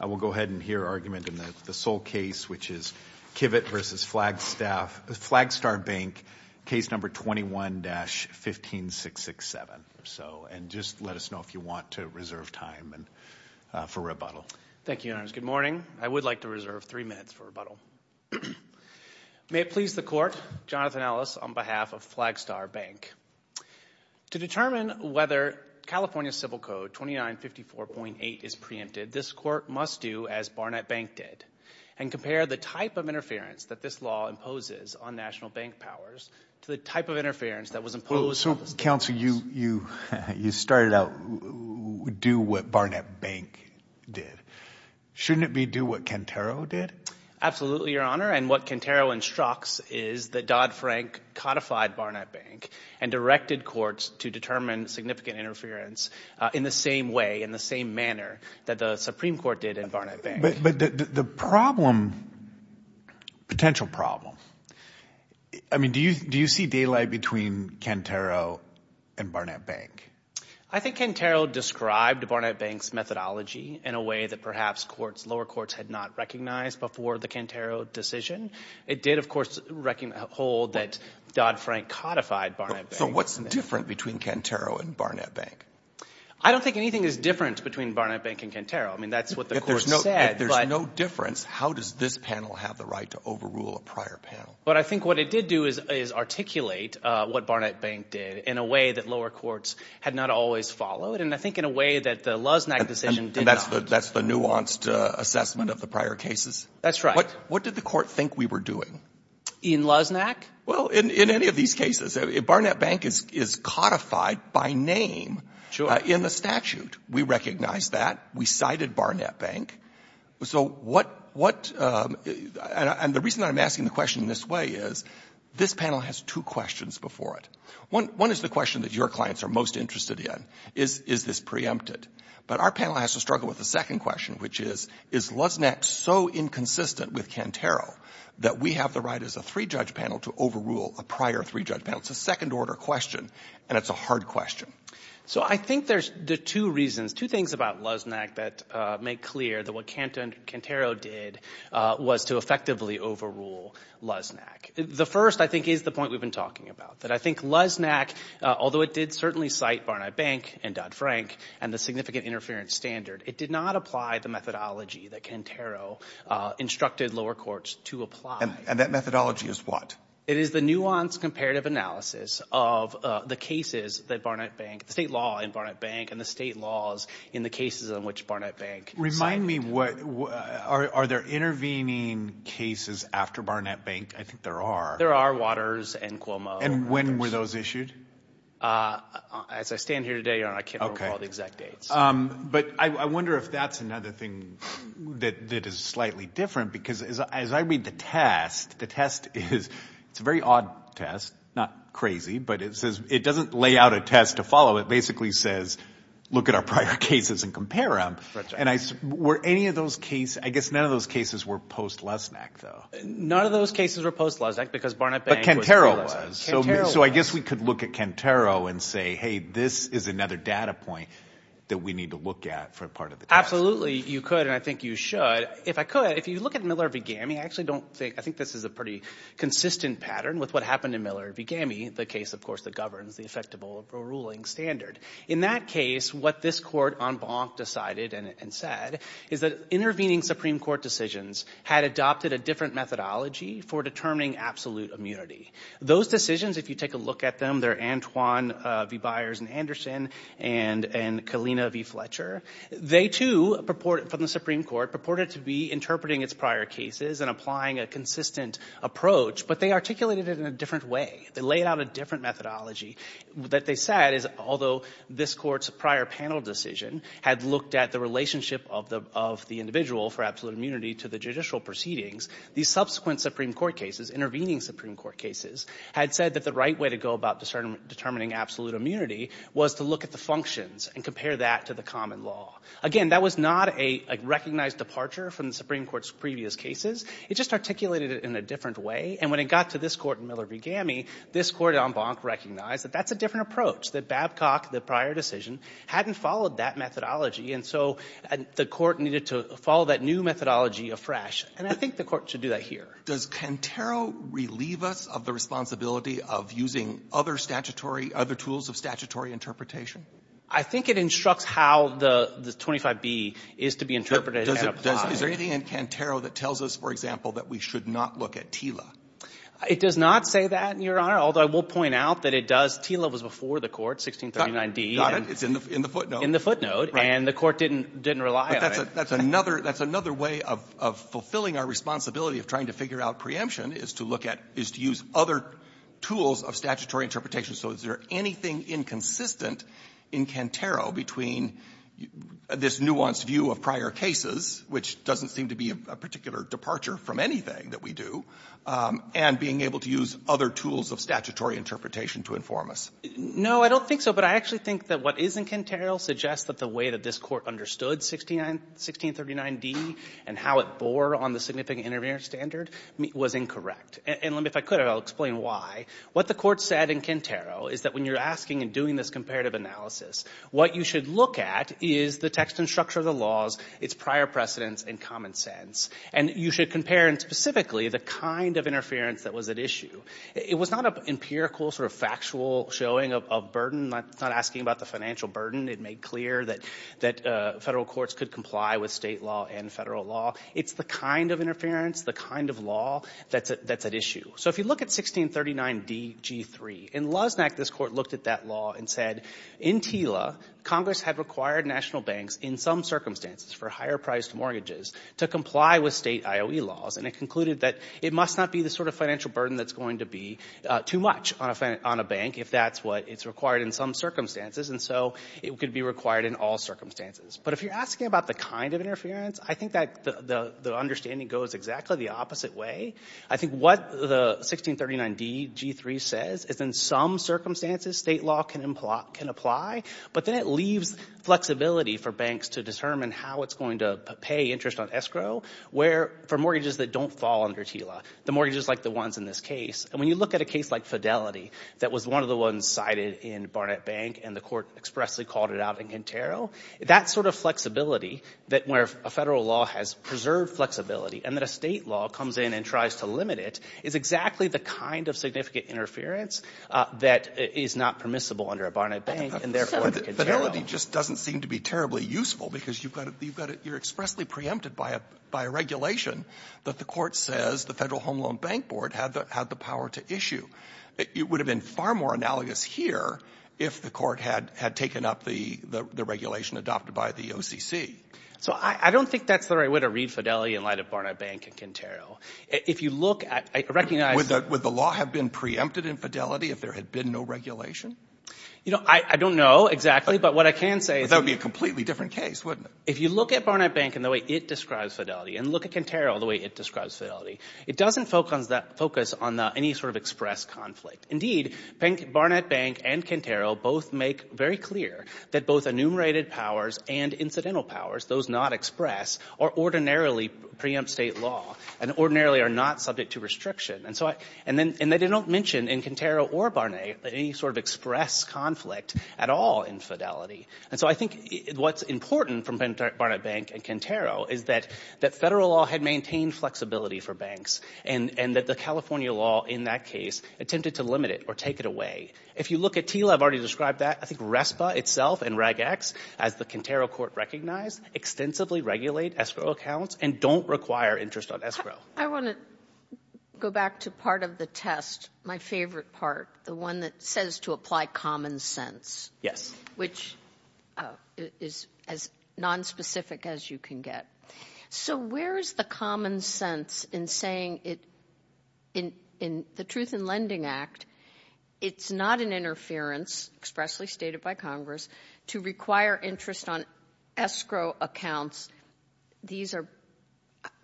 I will go ahead and hear argument in the sole case, which is Kivett v. Flagstar Bank, Case No. 21-15667. And just let us know if you want to reserve time for rebuttal. Thank you, Your Honors. Good morning. I would like to reserve three minutes for rebuttal. May it please the Court, Jonathan Ellis on behalf of Flagstar Bank. To determine whether California Civil Code 2954.8 is preempted, this Court must do as Barnett Bank did, and compare the type of interference that this law imposes on national bank powers to the type of interference that was imposed on the state banks. So, Counsel, you started out, do what Barnett Bank did. Shouldn't it be do what Cantero did? Absolutely, Your Honor. And what Cantero instructs is that Dodd-Frank codified Barnett Bank and directed courts to determine significant interference in the same way, in the same manner that the Supreme Court did in Barnett Bank. But the problem, potential problem, I mean, do you see daylight between Cantero and Barnett Bank? I think Cantero described Barnett Bank's methodology in a way that perhaps courts, lower courts, had not recognized before the Cantero decision. It did, of course, hold that Dodd-Frank codified Barnett Bank. So what's different between Cantero and Barnett Bank? I don't think anything is different between Barnett Bank and Cantero. I mean, that's what the Court said. If there's no difference, how does this panel have the right to overrule a prior panel? But I think what it did do is articulate what Barnett Bank did in a way that lower courts had not always followed, and I think in a way that the Luznak decision did not. And that's the nuanced assessment of the prior cases? That's right. What did the Court think we were doing? In Luznak? Well, in any of these cases, Barnett Bank is codified by name in the statute. We recognize that. We cited Barnett Bank. And the reason I'm asking the question in this way is this panel has two questions before it. One is the question that your clients are most interested in, is this preempted? But our panel has to struggle with the second question, which is, is Luznak so inconsistent with Cantero that we have the right as a three-judge panel to overrule a prior three-judge panel? It's a second-order question, and it's a hard question. So I think there's two reasons, two things about Luznak that make clear that what Cantero did was to effectively overrule Luznak. The first, I think, is the point we've been talking about, that I think Luznak, although it did certainly cite Barnett Bank and Dodd-Frank and the significant interference standard, it did not apply the methodology that Cantero instructed lower courts to apply. And that methodology is what? It is the nuanced comparative analysis of the cases that Barnett Bank, the state law in Barnett Bank and the state laws in the cases in which Barnett Bank cited. Remind me, are there intervening cases after Barnett Bank? I think there are. There are Waters and Cuomo. And when were those issued? As I stand here today, I can't remember all the exact dates. But I wonder if that's another thing that is slightly different, because as I read the test, the test is a very odd test, not crazy, but it doesn't lay out a test to follow. It basically says look at our prior cases and compare them. And were any of those cases – I guess none of those cases were post-Luznak, though. None of those cases were post-Luznak because Barnett Bank was Luznak. But Cantero was. Cantero was. Can I look at Cantero and say, hey, this is another data point that we need to look at for part of the test? Absolutely. You could, and I think you should. If I could, if you look at Miller v. Gammie, I actually don't think – I think this is a pretty consistent pattern with what happened in Miller v. Gammie, the case, of course, that governs the effectable ruling standard. In that case, what this court en banc decided and said is that intervening Supreme Court decisions had adopted a different methodology for determining absolute immunity. Those decisions, if you take a look at them, they're Antoine v. Byers v. Anderson and Kalina v. Fletcher. They, too, from the Supreme Court, purported to be interpreting its prior cases and applying a consistent approach, but they articulated it in a different way. They laid out a different methodology. What they said is although this court's prior panel decision had looked at the relationship of the individual for absolute immunity to the judicial proceedings, these subsequent Supreme Court cases, intervening Supreme Court cases, had said that the right way to go about determining absolute immunity was to look at the functions and compare that to the common law. Again, that was not a recognized departure from the Supreme Court's previous cases. It just articulated it in a different way, and when it got to this court in Miller v. Gammie, this court en banc recognized that that's a different approach, that Babcock, the prior decision, hadn't followed that methodology. And so the court needed to follow that new methodology afresh. And I think the court should do that here. Does Cantero relieve us of the responsibility of using other statutory, other tools of statutory interpretation? I think it instructs how the 25b is to be interpreted and applied. Is there anything in Cantero that tells us, for example, that we should not look at TILA? It does not say that, Your Honor, although I will point out that it does. TILA was before the court, 1639d. It's in the footnote. In the footnote, and the court didn't rely on it. That's another way of fulfilling our responsibility of trying to figure out preemption is to look at, is to use other tools of statutory interpretation. So is there anything inconsistent in Cantero between this nuanced view of prior cases, which doesn't seem to be a particular departure from anything that we do, and being able to use other tools of statutory interpretation to inform us? No, I don't think so. But I actually think that what is in Cantero suggests that the way that this Court understood 1639d and how it bore on the significant interference standard was incorrect. And let me, if I could, I'll explain why. What the Court said in Cantero is that when you're asking and doing this comparative analysis, what you should look at is the text and structure of the laws, its prior precedents, and common sense. And you should compare, and specifically, the kind of interference that was at issue. It was not an empirical sort of factual showing of burden, not asking about the financial burden. It made clear that federal courts could comply with state law and federal law. It's the kind of interference, the kind of law, that's at issue. So if you look at 1639d-g-3, in Loznak, this Court looked at that law and said, in TILA, Congress had required national banks, in some circumstances, for higher-priced mortgages to comply with state IOE laws. And it concluded that it must not be the sort of financial burden that's going to be too much on a bank, if that's what is required in some circumstances. And so it could be required in all circumstances. But if you're asking about the kind of interference, I think that the understanding goes exactly the opposite way. I think what the 1639d-g-3 says is in some circumstances, state law can apply, but then it leaves flexibility for banks to determine how it's going to pay interest on escrow, for mortgages that don't fall under TILA, the mortgages like the ones in this case. And when you look at a case like Fidelity, that was one of the ones cited in Barnett Bank, and the Court expressly called it out in Quintero, that sort of flexibility, where a federal law has preserved flexibility, and then a state law comes in and tries to limit it, is exactly the kind of significant interference that is not permissible under a Barnett Bank, and therefore under Quintero. But Fidelity just doesn't seem to be terribly useful, because you're expressly preempted by a regulation that the Court says the Federal Home Loan Bank Board had the power to issue. It would have been far more analogous here if the Court had taken up the regulation adopted by the OCC. So I don't think that's the right way to read Fidelity in light of Barnett Bank and Quintero. If you look at – I recognize – Would the law have been preempted in Fidelity if there had been no regulation? I don't know exactly, but what I can say is – But that would be a completely different case, wouldn't it? If you look at Barnett Bank in the way it describes Fidelity, and look at Quintero in the way it describes Fidelity, it doesn't focus on any sort of express conflict. Indeed, Barnett Bank and Quintero both make very clear that both enumerated powers and incidental powers, those not express, are ordinarily preempt state law, and ordinarily are not subject to restriction. And they don't mention in Quintero or Barnett any sort of express conflict at all in Fidelity. And so I think what's important from Barnett Bank and Quintero is that federal law had maintained flexibility for banks, and that the California law in that case attempted to limit it or take it away. If you look at TILA, I've already described that. I think RESPA itself and REGEX, as the Quintero Court recognized, extensively regulate escrow accounts and don't require interest on escrow. I want to go back to part of the test, my favorite part, the one that says to apply common sense. Which is as nonspecific as you can get. So where is the common sense in saying in the Truth in Lending Act, it's not an interference, expressly stated by Congress, to require interest on escrow accounts. These are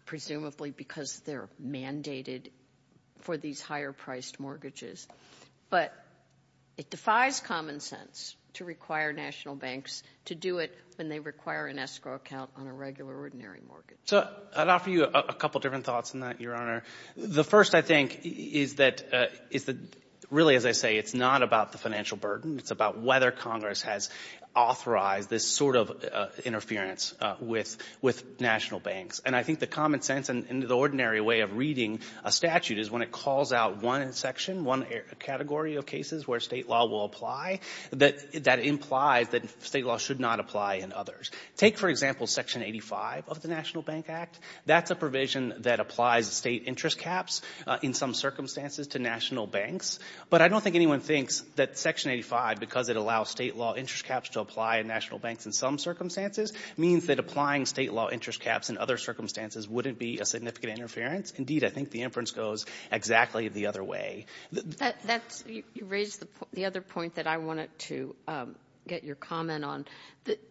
presumably because they're mandated for these higher-priced mortgages. But it defies common sense to require national banks to do it when they require an escrow account on a regular ordinary mortgage. So I'd offer you a couple different thoughts on that, Your Honor. The first, I think, is that really, as I say, it's not about the financial burden. It's about whether Congress has authorized this sort of interference with national banks. And I think the common sense and the ordinary way of reading a statute is when it calls out one section, one category of cases where state law will apply, that implies that state law should not apply in others. Take, for example, Section 85 of the National Bank Act. That's a provision that applies state interest caps in some circumstances to national banks. But I don't think anyone thinks that Section 85, because it allows state law interest caps to apply in national banks in some circumstances, means that applying state law interest caps in other circumstances wouldn't be a significant interference. Indeed, I think the inference goes exactly the other way. You raised the other point that I wanted to get your comment on.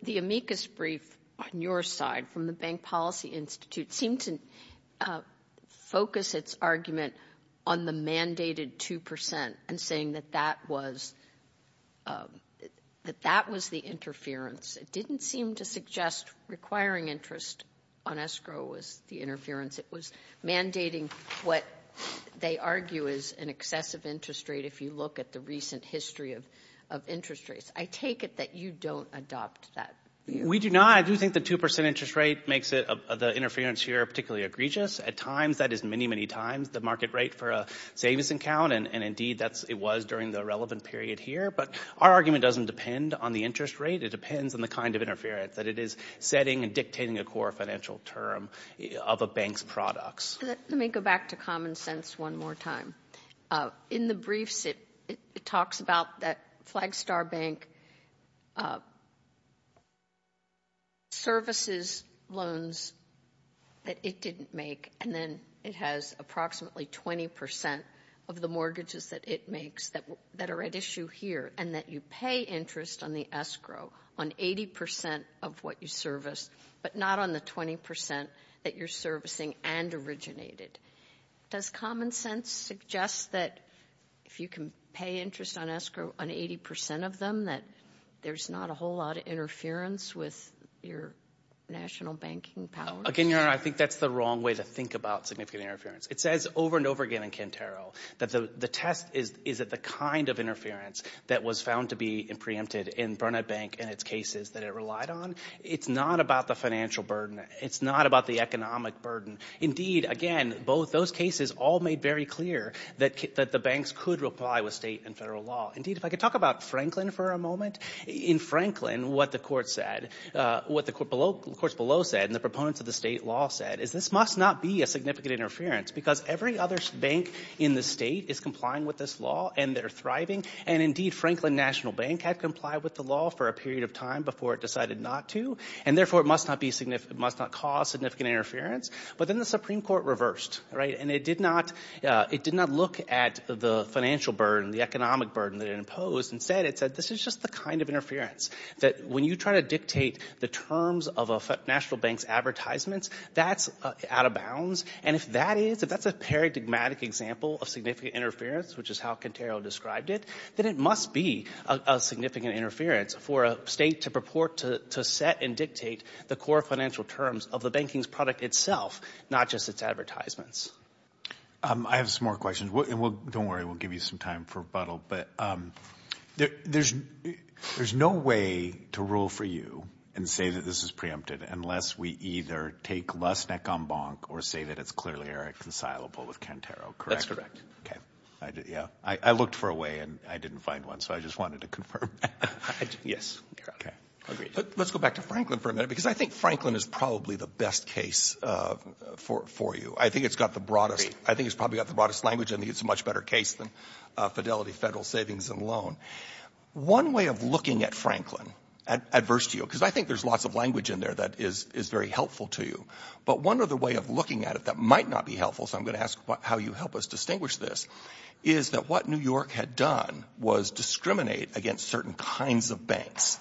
The amicus brief on your side from the Bank Policy Institute seemed to focus its argument on the mandated 2% and saying that that was the interference. It didn't seem to suggest requiring interest on escrow was the interference. It was mandating what they argue is an excessive interest rate if you look at the recent history of interest rates. I take it that you don't adopt that view. We do not. I do think the 2% interest rate makes the interference here particularly egregious. At times, that is many, many times the market rate for a savings account, and indeed it was during the relevant period here. But our argument doesn't depend on the interest rate. It depends on the kind of interference that it is setting and dictating a core financial term of a bank's products. Let me go back to common sense one more time. In the briefs, it talks about that Flagstar Bank services loans that it didn't make, and then it has approximately 20% of the mortgages that it makes that are at issue here, and that you pay interest on the escrow on 80% of what you service, but not on the 20% that you're servicing and originated. Does common sense suggest that if you can pay interest on escrow on 80% of them that there's not a whole lot of interference with your national banking powers? Again, Your Honor, I think that's the wrong way to think about significant interference. It says over and over again in Quintero that the test is the kind of interference that was found to be preempted in Burnett Bank and its cases that it relied on. It's not about the financial burden. It's not about the economic burden. Indeed, again, both those cases all made very clear that the banks could reply with state and federal law. Indeed, if I could talk about Franklin for a moment. In Franklin, what the courts below said and the proponents of the state law said is this must not be a significant interference because every other bank in the state is complying with this law, and they're thriving. Indeed, Franklin National Bank had complied with the law for a period of time before it decided not to, and therefore it must not cause significant interference. But then the Supreme Court reversed, right, and it did not look at the financial burden, the economic burden that it imposed. Instead, it said this is just the kind of interference that when you try to dictate the terms of a national bank's advertisements, that's out of bounds. And if that's a paradigmatic example of significant interference, which is how Quintero described it, then it must be a significant interference for a state to purport to set and dictate the core financial terms of the banking's product itself, not just its advertisements. I have some more questions. Don't worry. We'll give you some time for rebuttal. But there's no way to rule for you and say that this is preempted unless we either take less neck on bonk or say that it's clearly irreconcilable with Quintero, correct? That's correct. Okay. I looked for a way, and I didn't find one, so I just wanted to confirm that. Yes. Let's go back to Franklin for a minute, because I think Franklin is probably the best case for you. I think it's probably got the broadest language and it's a much better case than Fidelity Federal Savings and Loan. One way of looking at Franklin, adverse to you, because I think there's lots of language in there that is very helpful to you, but one other way of looking at it that might not be helpful, so I'm going to ask how you help us distinguish this, is that what New York had done was discriminate against certain kinds of banks.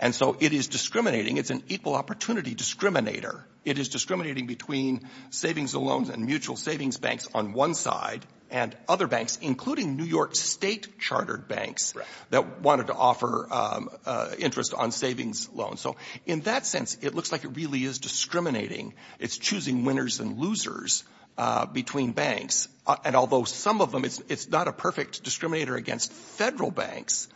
And so it is discriminating. It's an equal opportunity discriminator. It is discriminating between savings and loans and mutual savings banks on one side and other banks, including New York State chartered banks that wanted to offer interest on savings loans. So in that sense, it looks like it really is discriminating. It's choosing winners and losers between banks. And although some of them, it's not a perfect discriminator against federal banks,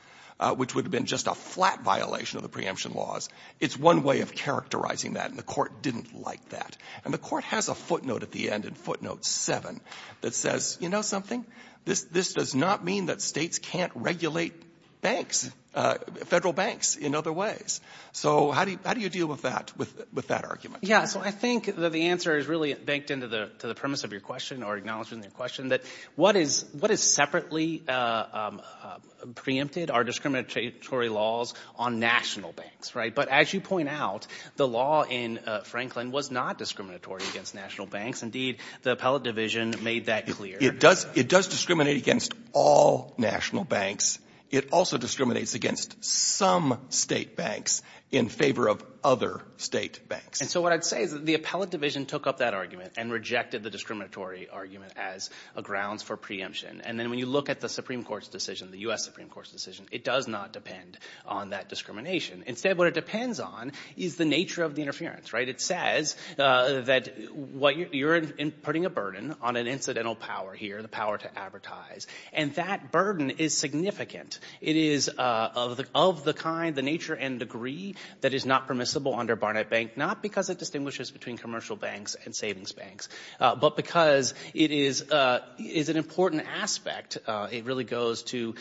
which would have been just a flat violation of the preemption laws. It's one way of characterizing that, and the court didn't like that. And the court has a footnote at the end in footnote 7 that says, you know something? This does not mean that states can't regulate banks, federal banks, in other ways. So how do you deal with that argument? Yeah, so I think the answer is really banked into the premise of your question or acknowledging the question that what is separately preempted are discriminatory laws on national banks, right? But as you point out, the law in Franklin was not discriminatory against national banks. Indeed, the appellate division made that clear. It does discriminate against all national banks. It also discriminates against some state banks in favor of other state banks. And so what I'd say is that the appellate division took up that argument and rejected the discriminatory argument as a grounds for preemption. And then when you look at the Supreme Court's decision, the U.S. Supreme Court's decision, it does not depend on that discrimination. Instead, what it depends on is the nature of the interference, right? It says that you're putting a burden on an incidental power here, the power to advertise, and that burden is significant. It is of the kind, the nature and degree, that is not permissible under Barnett Bank, not because it distinguishes between commercial banks and savings banks, but because it is an important aspect. It really goes to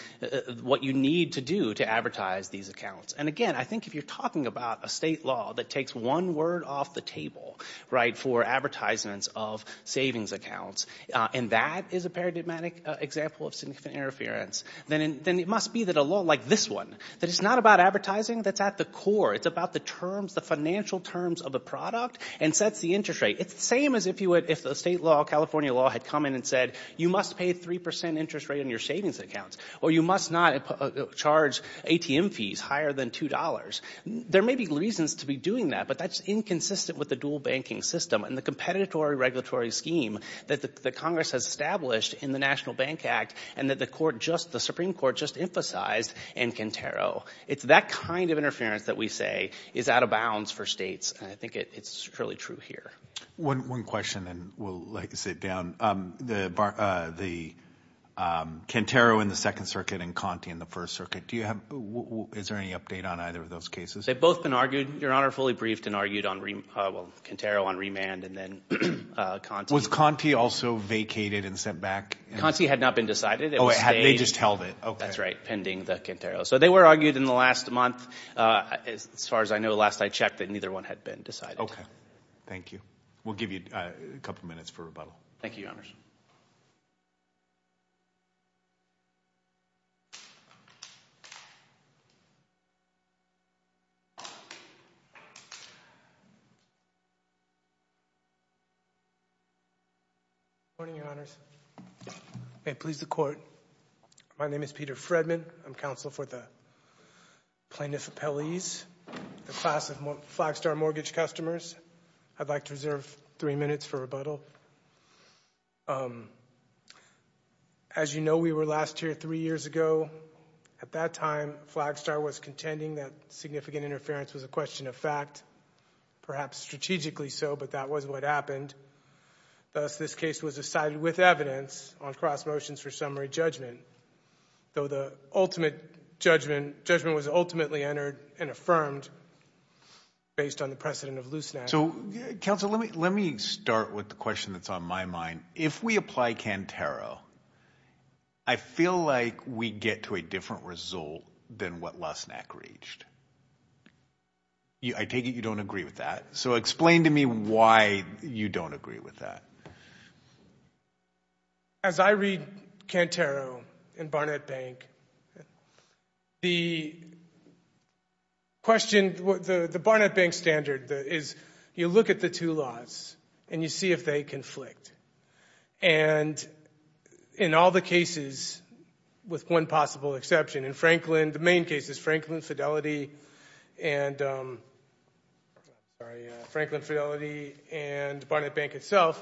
what you need to do to advertise these accounts. And again, I think if you're talking about a state law that takes one word off the table, right, for advertisements of savings accounts, and that is a paradigmatic example of significant interference, then it must be that a law like this one, that it's not about advertising that's at the core. It's about the terms, the financial terms of the product, and sets the interest rate. It's the same as if the state law, California law, had come in and said, you must pay a 3% interest rate on your savings accounts, or you must not charge ATM fees higher than $2. There may be reasons to be doing that, but that's inconsistent with the dual banking system and the competitory regulatory scheme that Congress has established in the National Bank Act and that the Supreme Court just emphasized in Quintero. It's that kind of interference that we say is out of bounds for states, and I think it's really true here. One question, and we'll sit down. The Quintero in the Second Circuit and Conte in the First Circuit, is there any update on either of those cases? They've both been argued, Your Honor, fully briefed and argued on Quintero, on remand, and then Conte. Was Conte also vacated and sent back? Conte had not been decided. Oh, they just held it. That's right, pending the Quintero. So they were argued in the last month, as far as I know, last I checked that neither one had been decided. Thank you. We'll give you a couple minutes for rebuttal. Thank you, Your Honors. Good morning, Your Honors. May it please the Court, my name is Peter Fredman. I'm counsel for the Plaintiff Appellees, the class of Flagstar mortgage customers. I'd like to reserve three minutes for rebuttal. As you know, we were last here three years ago. At that time, Flagstar was contending that significant interference was a question of fact, perhaps strategically so, but that was what happened. Thus, this case was decided with evidence on cross motions for summary judgment. Though the ultimate judgment was ultimately entered and affirmed based on the precedent of Looseneck. Counsel, let me start with the question that's on my mind. If we apply Cantero, I feel like we get to a different result than what Looseneck reached. I take it you don't agree with that. So explain to me why you don't agree with that. As I read Cantero and Barnett Bank, the Barnett Bank standard is you look at the two laws and you see if they conflict. And in all the cases, with one possible exception, in Franklin, the main cases, Franklin Fidelity and Barnett Bank itself,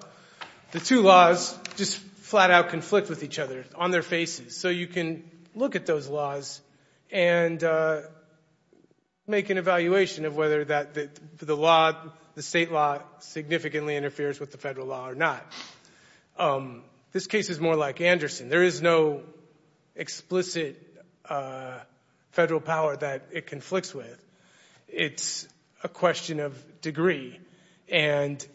the two laws just flat out conflict with each other on their faces. So you can look at those laws and make an evaluation of whether the state law significantly interferes with the federal law or not. This case is more like Anderson. There is no explicit federal power that it conflicts with. It's a question of degree. And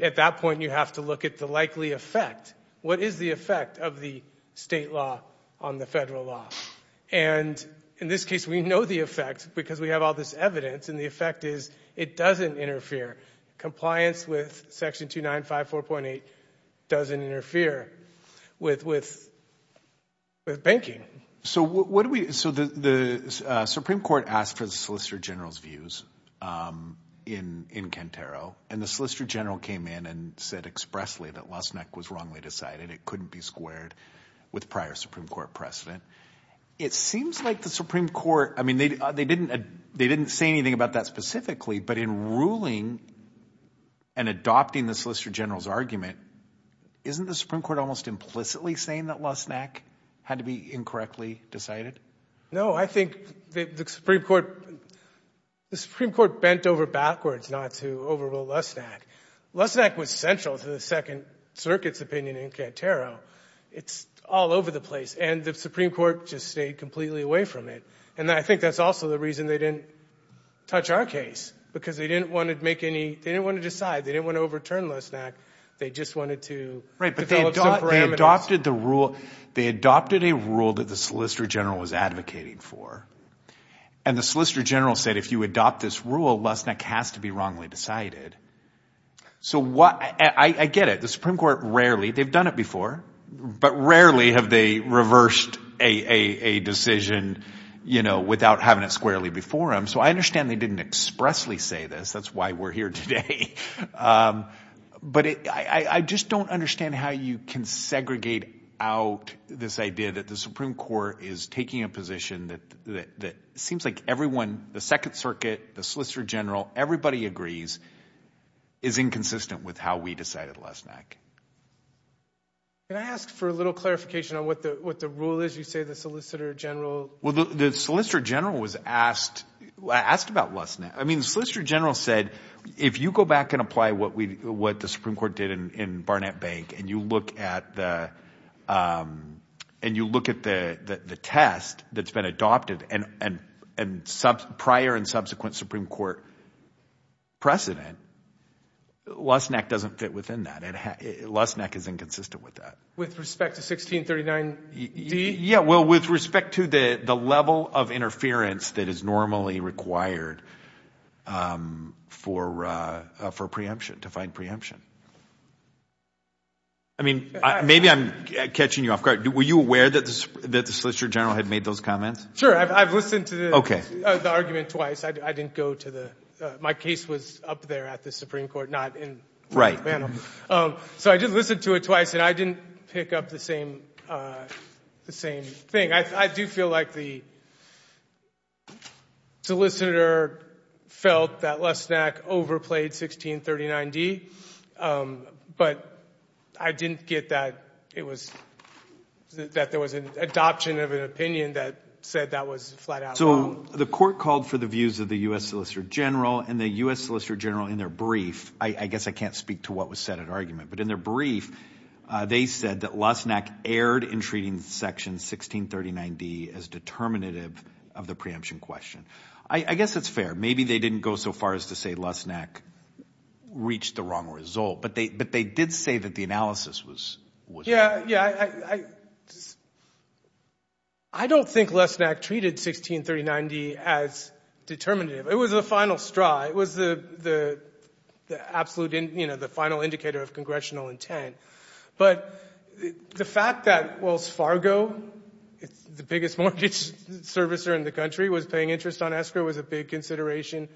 at that point, you have to look at the likely effect. What is the effect of the state law on the federal law? And in this case, we know the effect because we have all this evidence, and the effect is it doesn't interfere. Compliance with Section 2954.8 doesn't interfere with banking. So the Supreme Court asked for the Solicitor General's views in Cantero, and the Solicitor General came in and said expressly that Losnack was wrongly decided. It couldn't be squared with prior Supreme Court precedent. It seems like the Supreme Court, I mean, they didn't say anything about that specifically, but in ruling and adopting the Solicitor General's argument, isn't the Supreme Court almost implicitly saying that Losnack had to be incorrectly decided? No. I think the Supreme Court bent over backwards not to overrule Losnack. Losnack was central to the Second Circuit's opinion in Cantero. It's all over the place, and the Supreme Court just stayed completely away from it. And I think that's also the reason they didn't touch our case because they didn't want to decide. They didn't want to overturn Losnack. They just wanted to develop some parameters. They adopted a rule that the Solicitor General was advocating for, and the Solicitor General said if you adopt this rule, Losnack has to be wrongly decided. So I get it. The Supreme Court rarely, they've done it before, but rarely have they reversed a decision without having it squarely before them. So I understand they didn't expressly say this. That's why we're here today. But I just don't understand how you can segregate out this idea that the Supreme Court is taking a position that seems like everyone, the Second Circuit, the Solicitor General, everybody agrees, is inconsistent with how we decided Losnack. Can I ask for a little clarification on what the rule is? You say the Solicitor General. Well, the Solicitor General was asked about Losnack. I mean the Solicitor General said, if you go back and apply what the Supreme Court did in Barnett Bank and you look at the test that's been adopted and prior and subsequent Supreme Court precedent, Losnack doesn't fit within that. Losnack is inconsistent with that. With respect to 1639D? Yeah, well, with respect to the level of interference that is normally required for preemption, to find preemption. I mean, maybe I'm catching you off guard. Were you aware that the Solicitor General had made those comments? Sure. I've listened to the argument twice. I didn't go to the – my case was up there at the Supreme Court, not in McBanham. So I did listen to it twice, and I didn't pick up the same thing. I do feel like the solicitor felt that Losnack overplayed 1639D, but I didn't get that it was – that there was an adoption of an opinion that said that was flat out wrong. So the court called for the views of the U.S. Solicitor General, and the U.S. Solicitor General in their brief – I guess I can't speak to what was said in the argument – but in their brief, they said that Losnack erred in treating Section 1639D as determinative of the preemption question. I guess it's fair. Maybe they didn't go so far as to say Losnack reached the wrong result, but they did say that the analysis was – Yeah, I don't think Losnack treated 1639D as determinative. It was the final straw. It was the absolute – you know, the final indicator of congressional intent. But the fact that Wells Fargo, the biggest mortgage servicer in the country, was paying interest on escrow was a big consideration.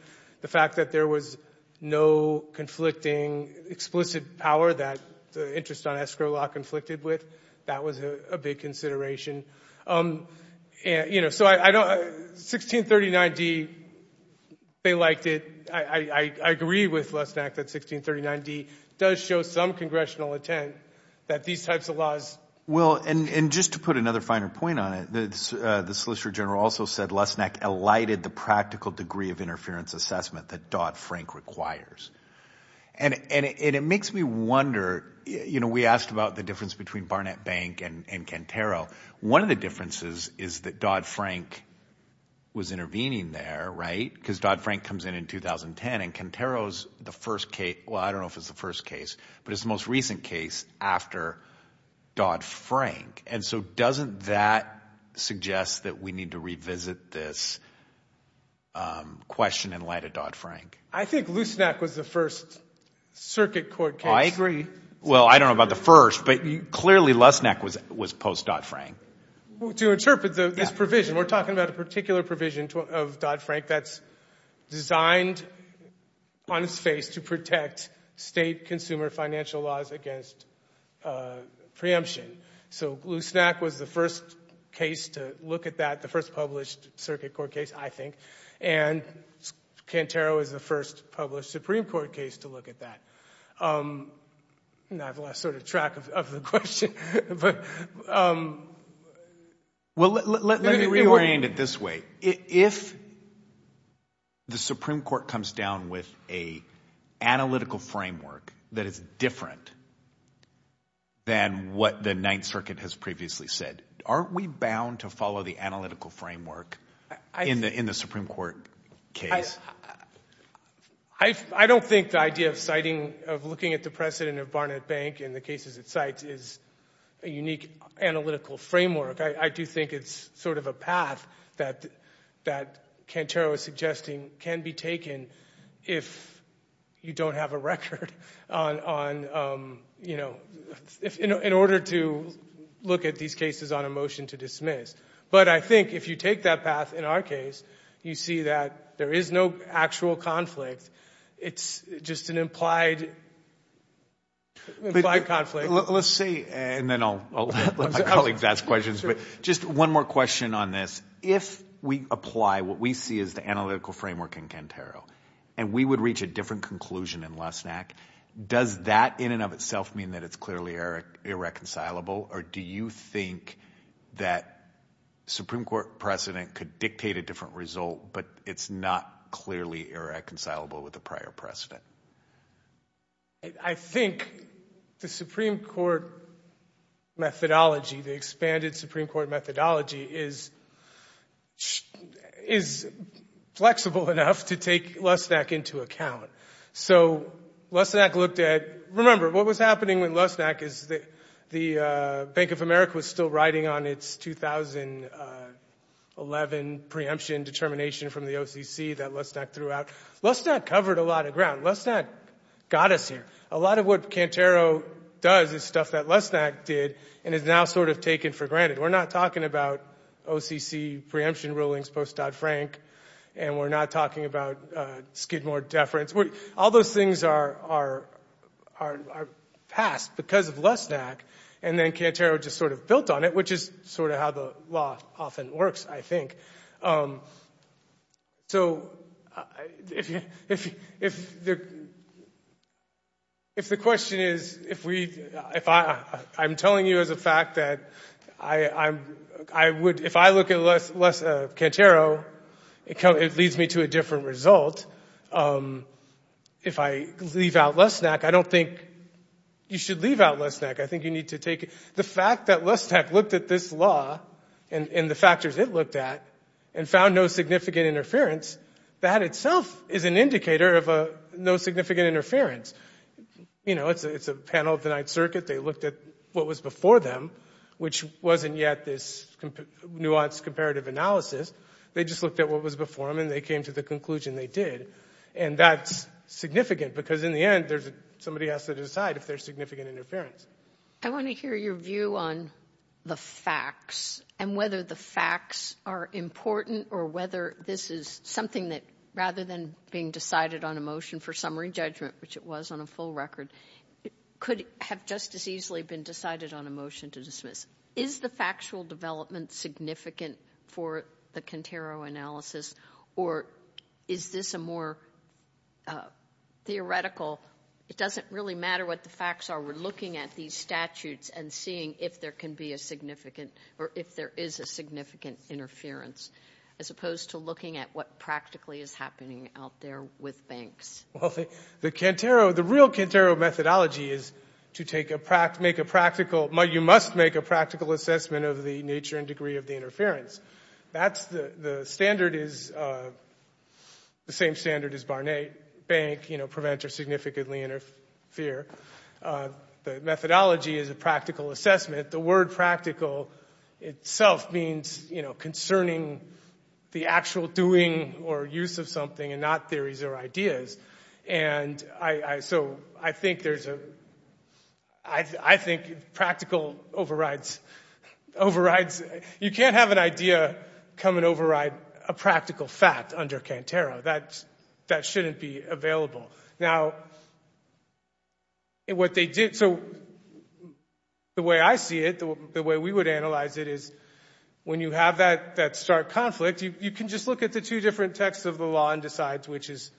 The fact that there was no conflicting explicit power that the interest on escrow law conflicted with, that was a big consideration. So 1639D, they liked it. I agree with Losnack that 1639D does show some congressional intent that these types of laws – Well, and just to put another finer point on it, the Solicitor General also said Losnack elided the practical degree of interference assessment that Dodd-Frank requires. And it makes me wonder – you know, we asked about the difference between Barnett Bank and Cantero. One of the differences is that Dodd-Frank was intervening there, right? Because Dodd-Frank comes in in 2010, and Cantero is the first case – well, I don't know if it's the first case, but it's the most recent case after Dodd-Frank. And so doesn't that suggest that we need to revisit this question in light of Dodd-Frank? I think Losnack was the first circuit court case. I agree. Well, I don't know about the first, but clearly Losnack was post-Dodd-Frank. Well, to interpret this provision, we're talking about a particular provision of Dodd-Frank that's designed on its face to protect state consumer financial laws against preemption. So Losnack was the first case to look at that, the first published circuit court case, I think. And Cantero is the first published Supreme Court case to look at that. Now I've lost sort of track of the question. Let me reorient it this way. If the Supreme Court comes down with an analytical framework that is different than what the Ninth Circuit has previously said, aren't we bound to follow the analytical framework in the Supreme Court case? I don't think the idea of citing, of looking at the precedent of Barnett Bank and the cases it cites is a unique analytical framework. I do think it's sort of a path that Cantero is suggesting can be taken if you don't have a record on, you know, in order to look at these cases on a motion to dismiss. But I think if you take that path in our case, you see that there is no actual conflict. It's just an implied conflict. Let's see, and then I'll let my colleagues ask questions, but just one more question on this. If we apply what we see as the analytical framework in Cantero and we would reach a different conclusion in Losnack, does that in and of itself mean that it's clearly irreconcilable, or do you think that Supreme Court precedent could dictate a different result but it's not clearly irreconcilable with the prior precedent? I think the Supreme Court methodology, the expanded Supreme Court methodology, is flexible enough to take Losnack into account. So Losnack looked at, remember, what was happening with Losnack is the Bank of America was still writing on its 2011 preemption determination from the OCC that Losnack threw out. Losnack covered a lot of ground. Losnack got us here. A lot of what Cantero does is stuff that Losnack did and is now sort of taken for granted. We're not talking about OCC preemption rulings post-Dodd-Frank, and we're not talking about Skidmore deference. All those things are past because of Losnack, and then Cantero just sort of built on it, which is sort of how the law often works, I think. So if the question is, if I'm telling you as a fact that I would, if I look at Cantero, it leads me to a different result. If I leave out Losnack, I don't think you should leave out Losnack. I think you need to take the fact that Losnack looked at this law and the factors it looked at and found no significant interference, that itself is an indicator of no significant interference. You know, it's a panel of the Ninth Circuit. They looked at what was before them, which wasn't yet this nuanced comparative analysis. They just looked at what was before them, and they came to the conclusion they did, and that's significant because, in the end, somebody has to decide if there's significant interference. I want to hear your view on the facts and whether the facts are important or whether this is something that, rather than being decided on a motion for summary judgment, which it was on a full record, could have just as easily been decided on a motion to dismiss. Is the factual development significant for the Cantero analysis, or is this a more theoretical... It doesn't really matter what the facts are. We're looking at these statutes and seeing if there can be a significant... or if there is a significant interference, as opposed to looking at what practically is happening out there with banks. Well, the Cantero... The real Cantero methodology is to make a practical... You must make a practical assessment of the nature and degree of the interference. That's... The standard is the same standard as Barnett. Bank, you know, prevent or significantly interfere. The methodology is a practical assessment. The word practical itself means, you know, concerning the actual doing or use of something and not theories or ideas. And so I think there's a... I think practical overrides... Overrides... You can't have an idea come and override a practical fact under Cantero. That shouldn't be available. Now, what they did... So the way I see it, the way we would analyse it, is when you have that stark conflict, you can just look at the two different texts of the law and decide which is...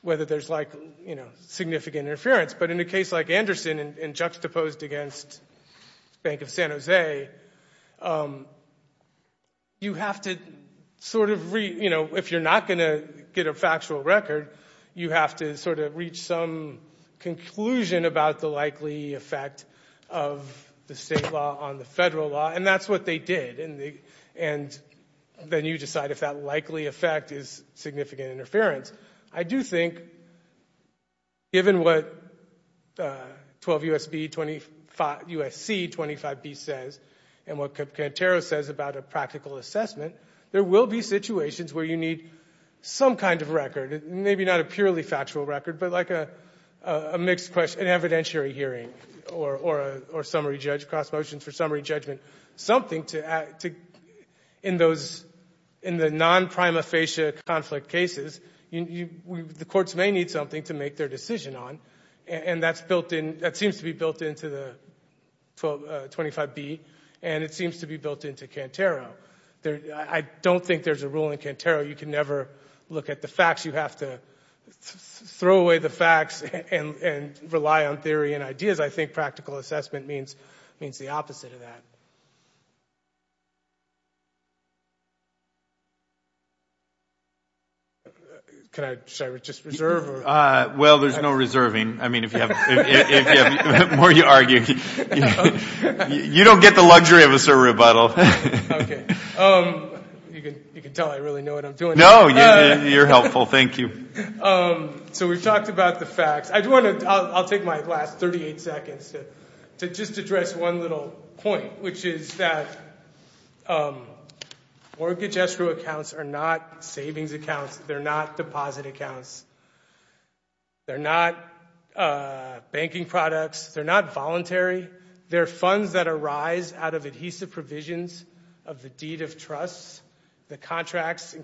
whether there's, like, you know, significant interference. But in a case like Anderson, and juxtaposed against Bank of San Jose, you have to sort of re... You know, if you're not going to get a factual record, you have to sort of reach some conclusion about the likely effect of the state law on the federal law. And that's what they did. And then you decide if that likely effect is significant interference. I do think, given what 12 U.S.C. 25B says and what Cantero says about a practical assessment, there will be situations where you need some kind of record, maybe not a purely factual record, but, like, a mixed question, an evidentiary hearing or summary judge, cross motions for summary judgment, something to... In those... In the non-prima facie conflict cases, the courts may need something to make their decision on, and that's built in... That seems to be built into the 12... 25B, and it seems to be built into Cantero. I don't think there's a rule in Cantero you can never look at the facts. You have to throw away the facts and rely on theory and ideas. I think practical assessment means the opposite of that. Thank you. Should I just reserve? Well, there's no reserving. I mean, the more you argue... You don't get the luxury of a sir rebuttal. OK. You can tell I really know what I'm doing. No, you're helpful. Thank you. So we've talked about the facts. I do want to... I'll take my last 38 seconds to just address one little point, which is that mortgage escrow accounts are not savings accounts. They're not deposit accounts. They're not banking products. They're not voluntary. They're funds that arise out of adhesive provisions of the deed of trust. The contracts...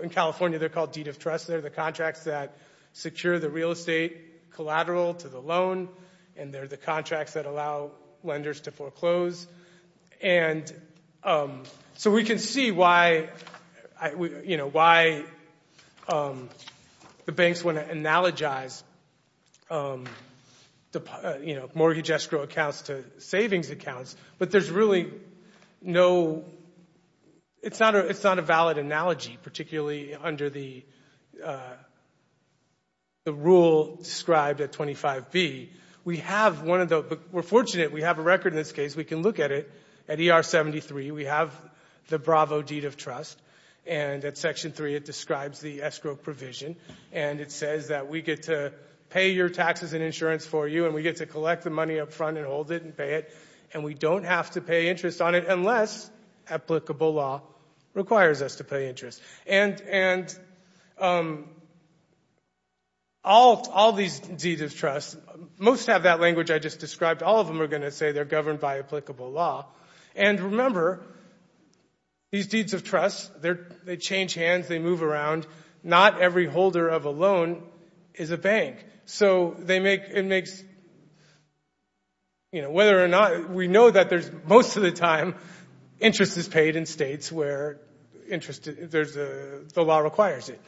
In California, they're called deed of trust. They're the contracts that secure the real estate collateral to the loan, and they're the contracts that allow lenders to foreclose. And so we can see why, you know, why the banks want to analogize, you know, mortgage escrow accounts to savings accounts, but there's really no... It's not a valid analogy, particularly under the rule described at 25B, we have one of the... We're fortunate we have a record in this case. We can look at it. At ER 73, we have the Bravo deed of trust, and at Section 3, it describes the escrow provision, and it says that we get to pay your taxes and insurance for you, and we get to collect the money up front and hold it and pay it, and we don't have to pay interest on it unless applicable law requires us to pay interest. And all these deeds of trust, most have that language I just described. All of them are going to say they're governed by applicable law. And remember, these deeds of trust, they change hands, they move around. Not every holder of a loan is a bank. So they make... You know, whether or not... We know that most of the time interest is paid in states where the law requires it.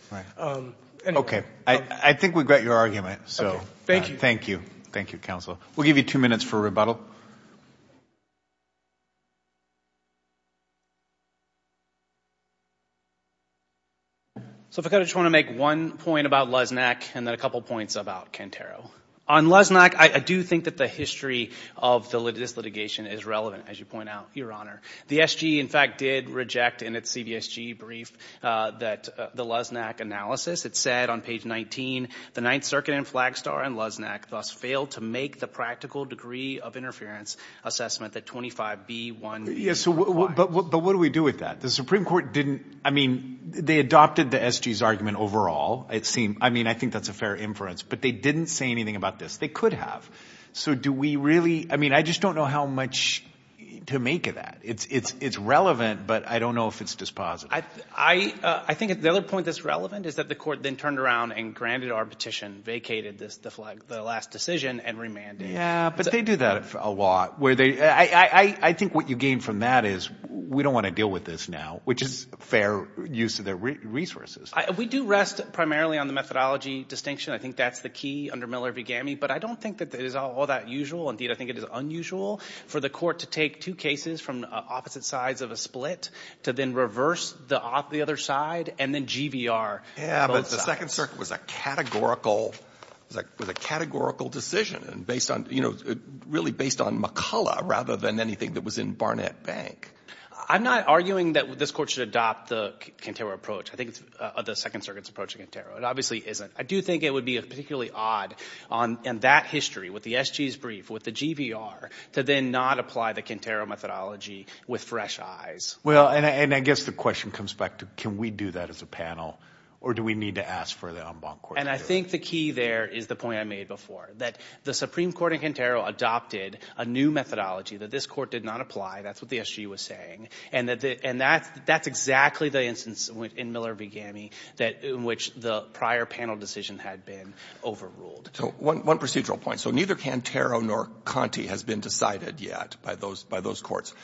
Okay. I think we've got your argument. Okay. Thank you. Thank you. Thank you, Counsel. We'll give you two minutes for rebuttal. So if I could, I just want to make one point about Lesnack and then a couple points about Cantero. On Lesnack, I do think that the history of this litigation is relevant, as you point out, Your Honor. The SG, in fact, did reject in its CVSG brief the Lesnack analysis. It said on page 19, the Ninth Circuit and Flagstar and Lesnack thus failed to make the practical degree of interference assessment that 25B1B requires. But what do we do with that? The Supreme Court didn't... I mean, they adopted the SG's argument overall. I mean, I think that's a fair inference. But they didn't say anything about this. They could have. So do we really... I mean, I just don't know how much to make of that. It's relevant, but I don't know if it's dispositive. I think the other point that's relevant is that the court then turned around and granted our petition, vacated the last decision, and remanded. Yeah, but they do that a lot. I think what you gain from that is we don't want to deal with this now, which is fair use of their resources. We do rest primarily on the methodology distinction. I think that's the key under Miller v. Gammey. But I don't think that it is all that usual. Indeed, I think it is unusual for the court to take two cases from opposite sides of a split to then reverse the other side and then GVR both sides. Yeah, but the Second Circuit was a categorical decision, really based on McCullough rather than anything that was in Barnett Bank. I'm not arguing that this court should adopt the Cantero approach. I think it's the Second Circuit's approach to Cantero. It obviously isn't. I do think it would be particularly odd in that history, with the SG's brief, with the GVR, to then not apply the Cantero methodology with fresh eyes. Well, and I guess the question comes back to can we do that as a panel or do we need to ask for the en banc court to do it? And I think the key there is the point I made before, that the Supreme Court in Cantero adopted a new methodology that this court did not apply. That's what the SG was saying. And that's exactly the instance in Miller v. GAMI in which the prior panel decision had been overruled. So one procedural point. So neither Cantero nor Conte has been decided yet by those courts.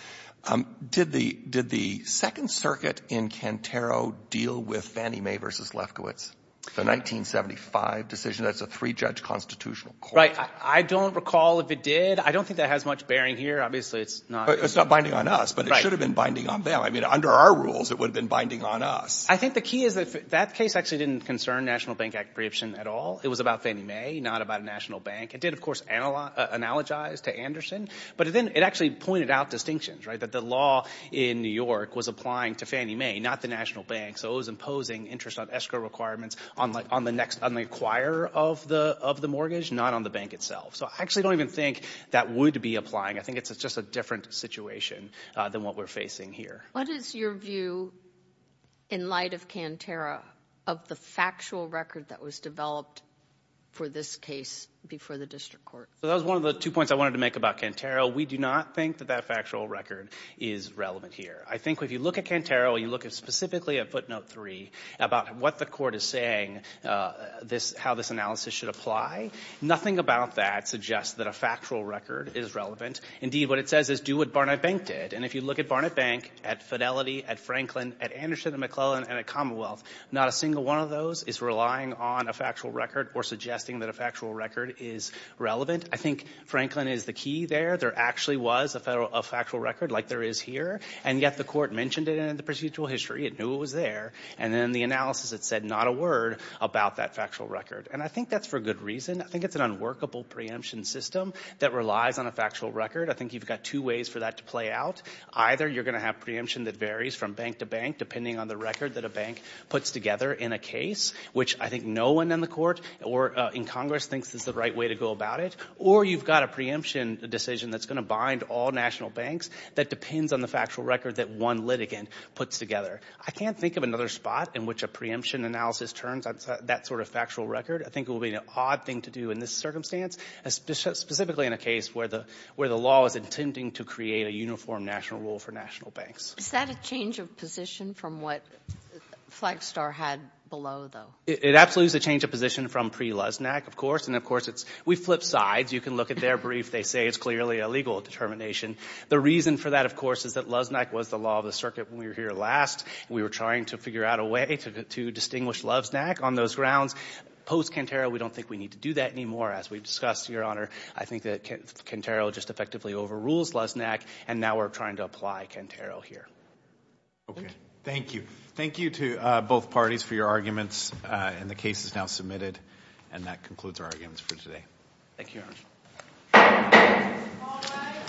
Did the Second Circuit in Cantero deal with Fannie Mae v. Lefkowitz, the 1975 decision? That's a three-judge constitutional court. Right. I don't recall if it did. I don't think that has much bearing here. Obviously, it's not. It's not binding on us, but it should have been binding on them. I mean, under our rules, it would have been binding on us. I think the key is that that case actually didn't concern National Bank Act preemption at all. It was about Fannie Mae, not about a national bank. It did, of course, analogize to Anderson. But then it actually pointed out distinctions, right, that the law in New York was applying to Fannie Mae, not the national bank. So it was imposing interest on escrow requirements on the acquirer of the mortgage, not on the bank itself. So I actually don't even think that would be applying. I think it's just a different situation than what we're facing here. What is your view, in light of Cantero, of the factual record that was developed for this case before the district court? That was one of the two points I wanted to make about Cantero. We do not think that that factual record is relevant here. I think if you look at Cantero, you look specifically at footnote 3 about what the court is saying, how this analysis should apply, nothing about that suggests that a factual record is relevant. Indeed, what it says is do what Barnett Bank did. And if you look at Barnett Bank, at Fidelity, at Franklin, at Anderson and McClellan, and at Commonwealth, not a single one of those is relying on a factual record or suggesting that a factual record is relevant. I think Franklin is the key there. There actually was a factual record like there is here, and yet the court mentioned it in the procedural history. It knew it was there. And then in the analysis, it said not a word about that factual record. And I think that's for a good reason. I think it's an unworkable preemption system that relies on a factual record. I think you've got two ways for that to play out. Either you're going to have preemption that varies from bank to bank depending on the record that a bank puts together in a case, which I think no one in the court or in Congress thinks is the right way to go about it, or you've got a preemption decision that's going to bind all national banks that depends on the factual record that one litigant puts together. I can't think of another spot in which a preemption analysis turns that sort of factual record. I think it would be an odd thing to do in this circumstance, specifically in a case where the law is intending to create a uniform national rule for national banks. Is that a change of position from what Flagstar had below, though? It absolutely is a change of position from pre-Luznak, of course. And, of course, we flip sides. You can look at their brief. They say it's clearly a legal determination. The reason for that, of course, is that Luznak was the law of the circuit when we were here last. We were trying to figure out a way to distinguish Luznak on those grounds. Post-Cantero, we don't think we need to do that anymore. As we've discussed, Your Honor, I think that Cantero just effectively overrules Luznak, and now we're trying to apply Cantero here. Okay. Thank you. Thank you to both parties for your arguments, and the case is now submitted. And that concludes our arguments for today. Thank you, Your Honor. All rise.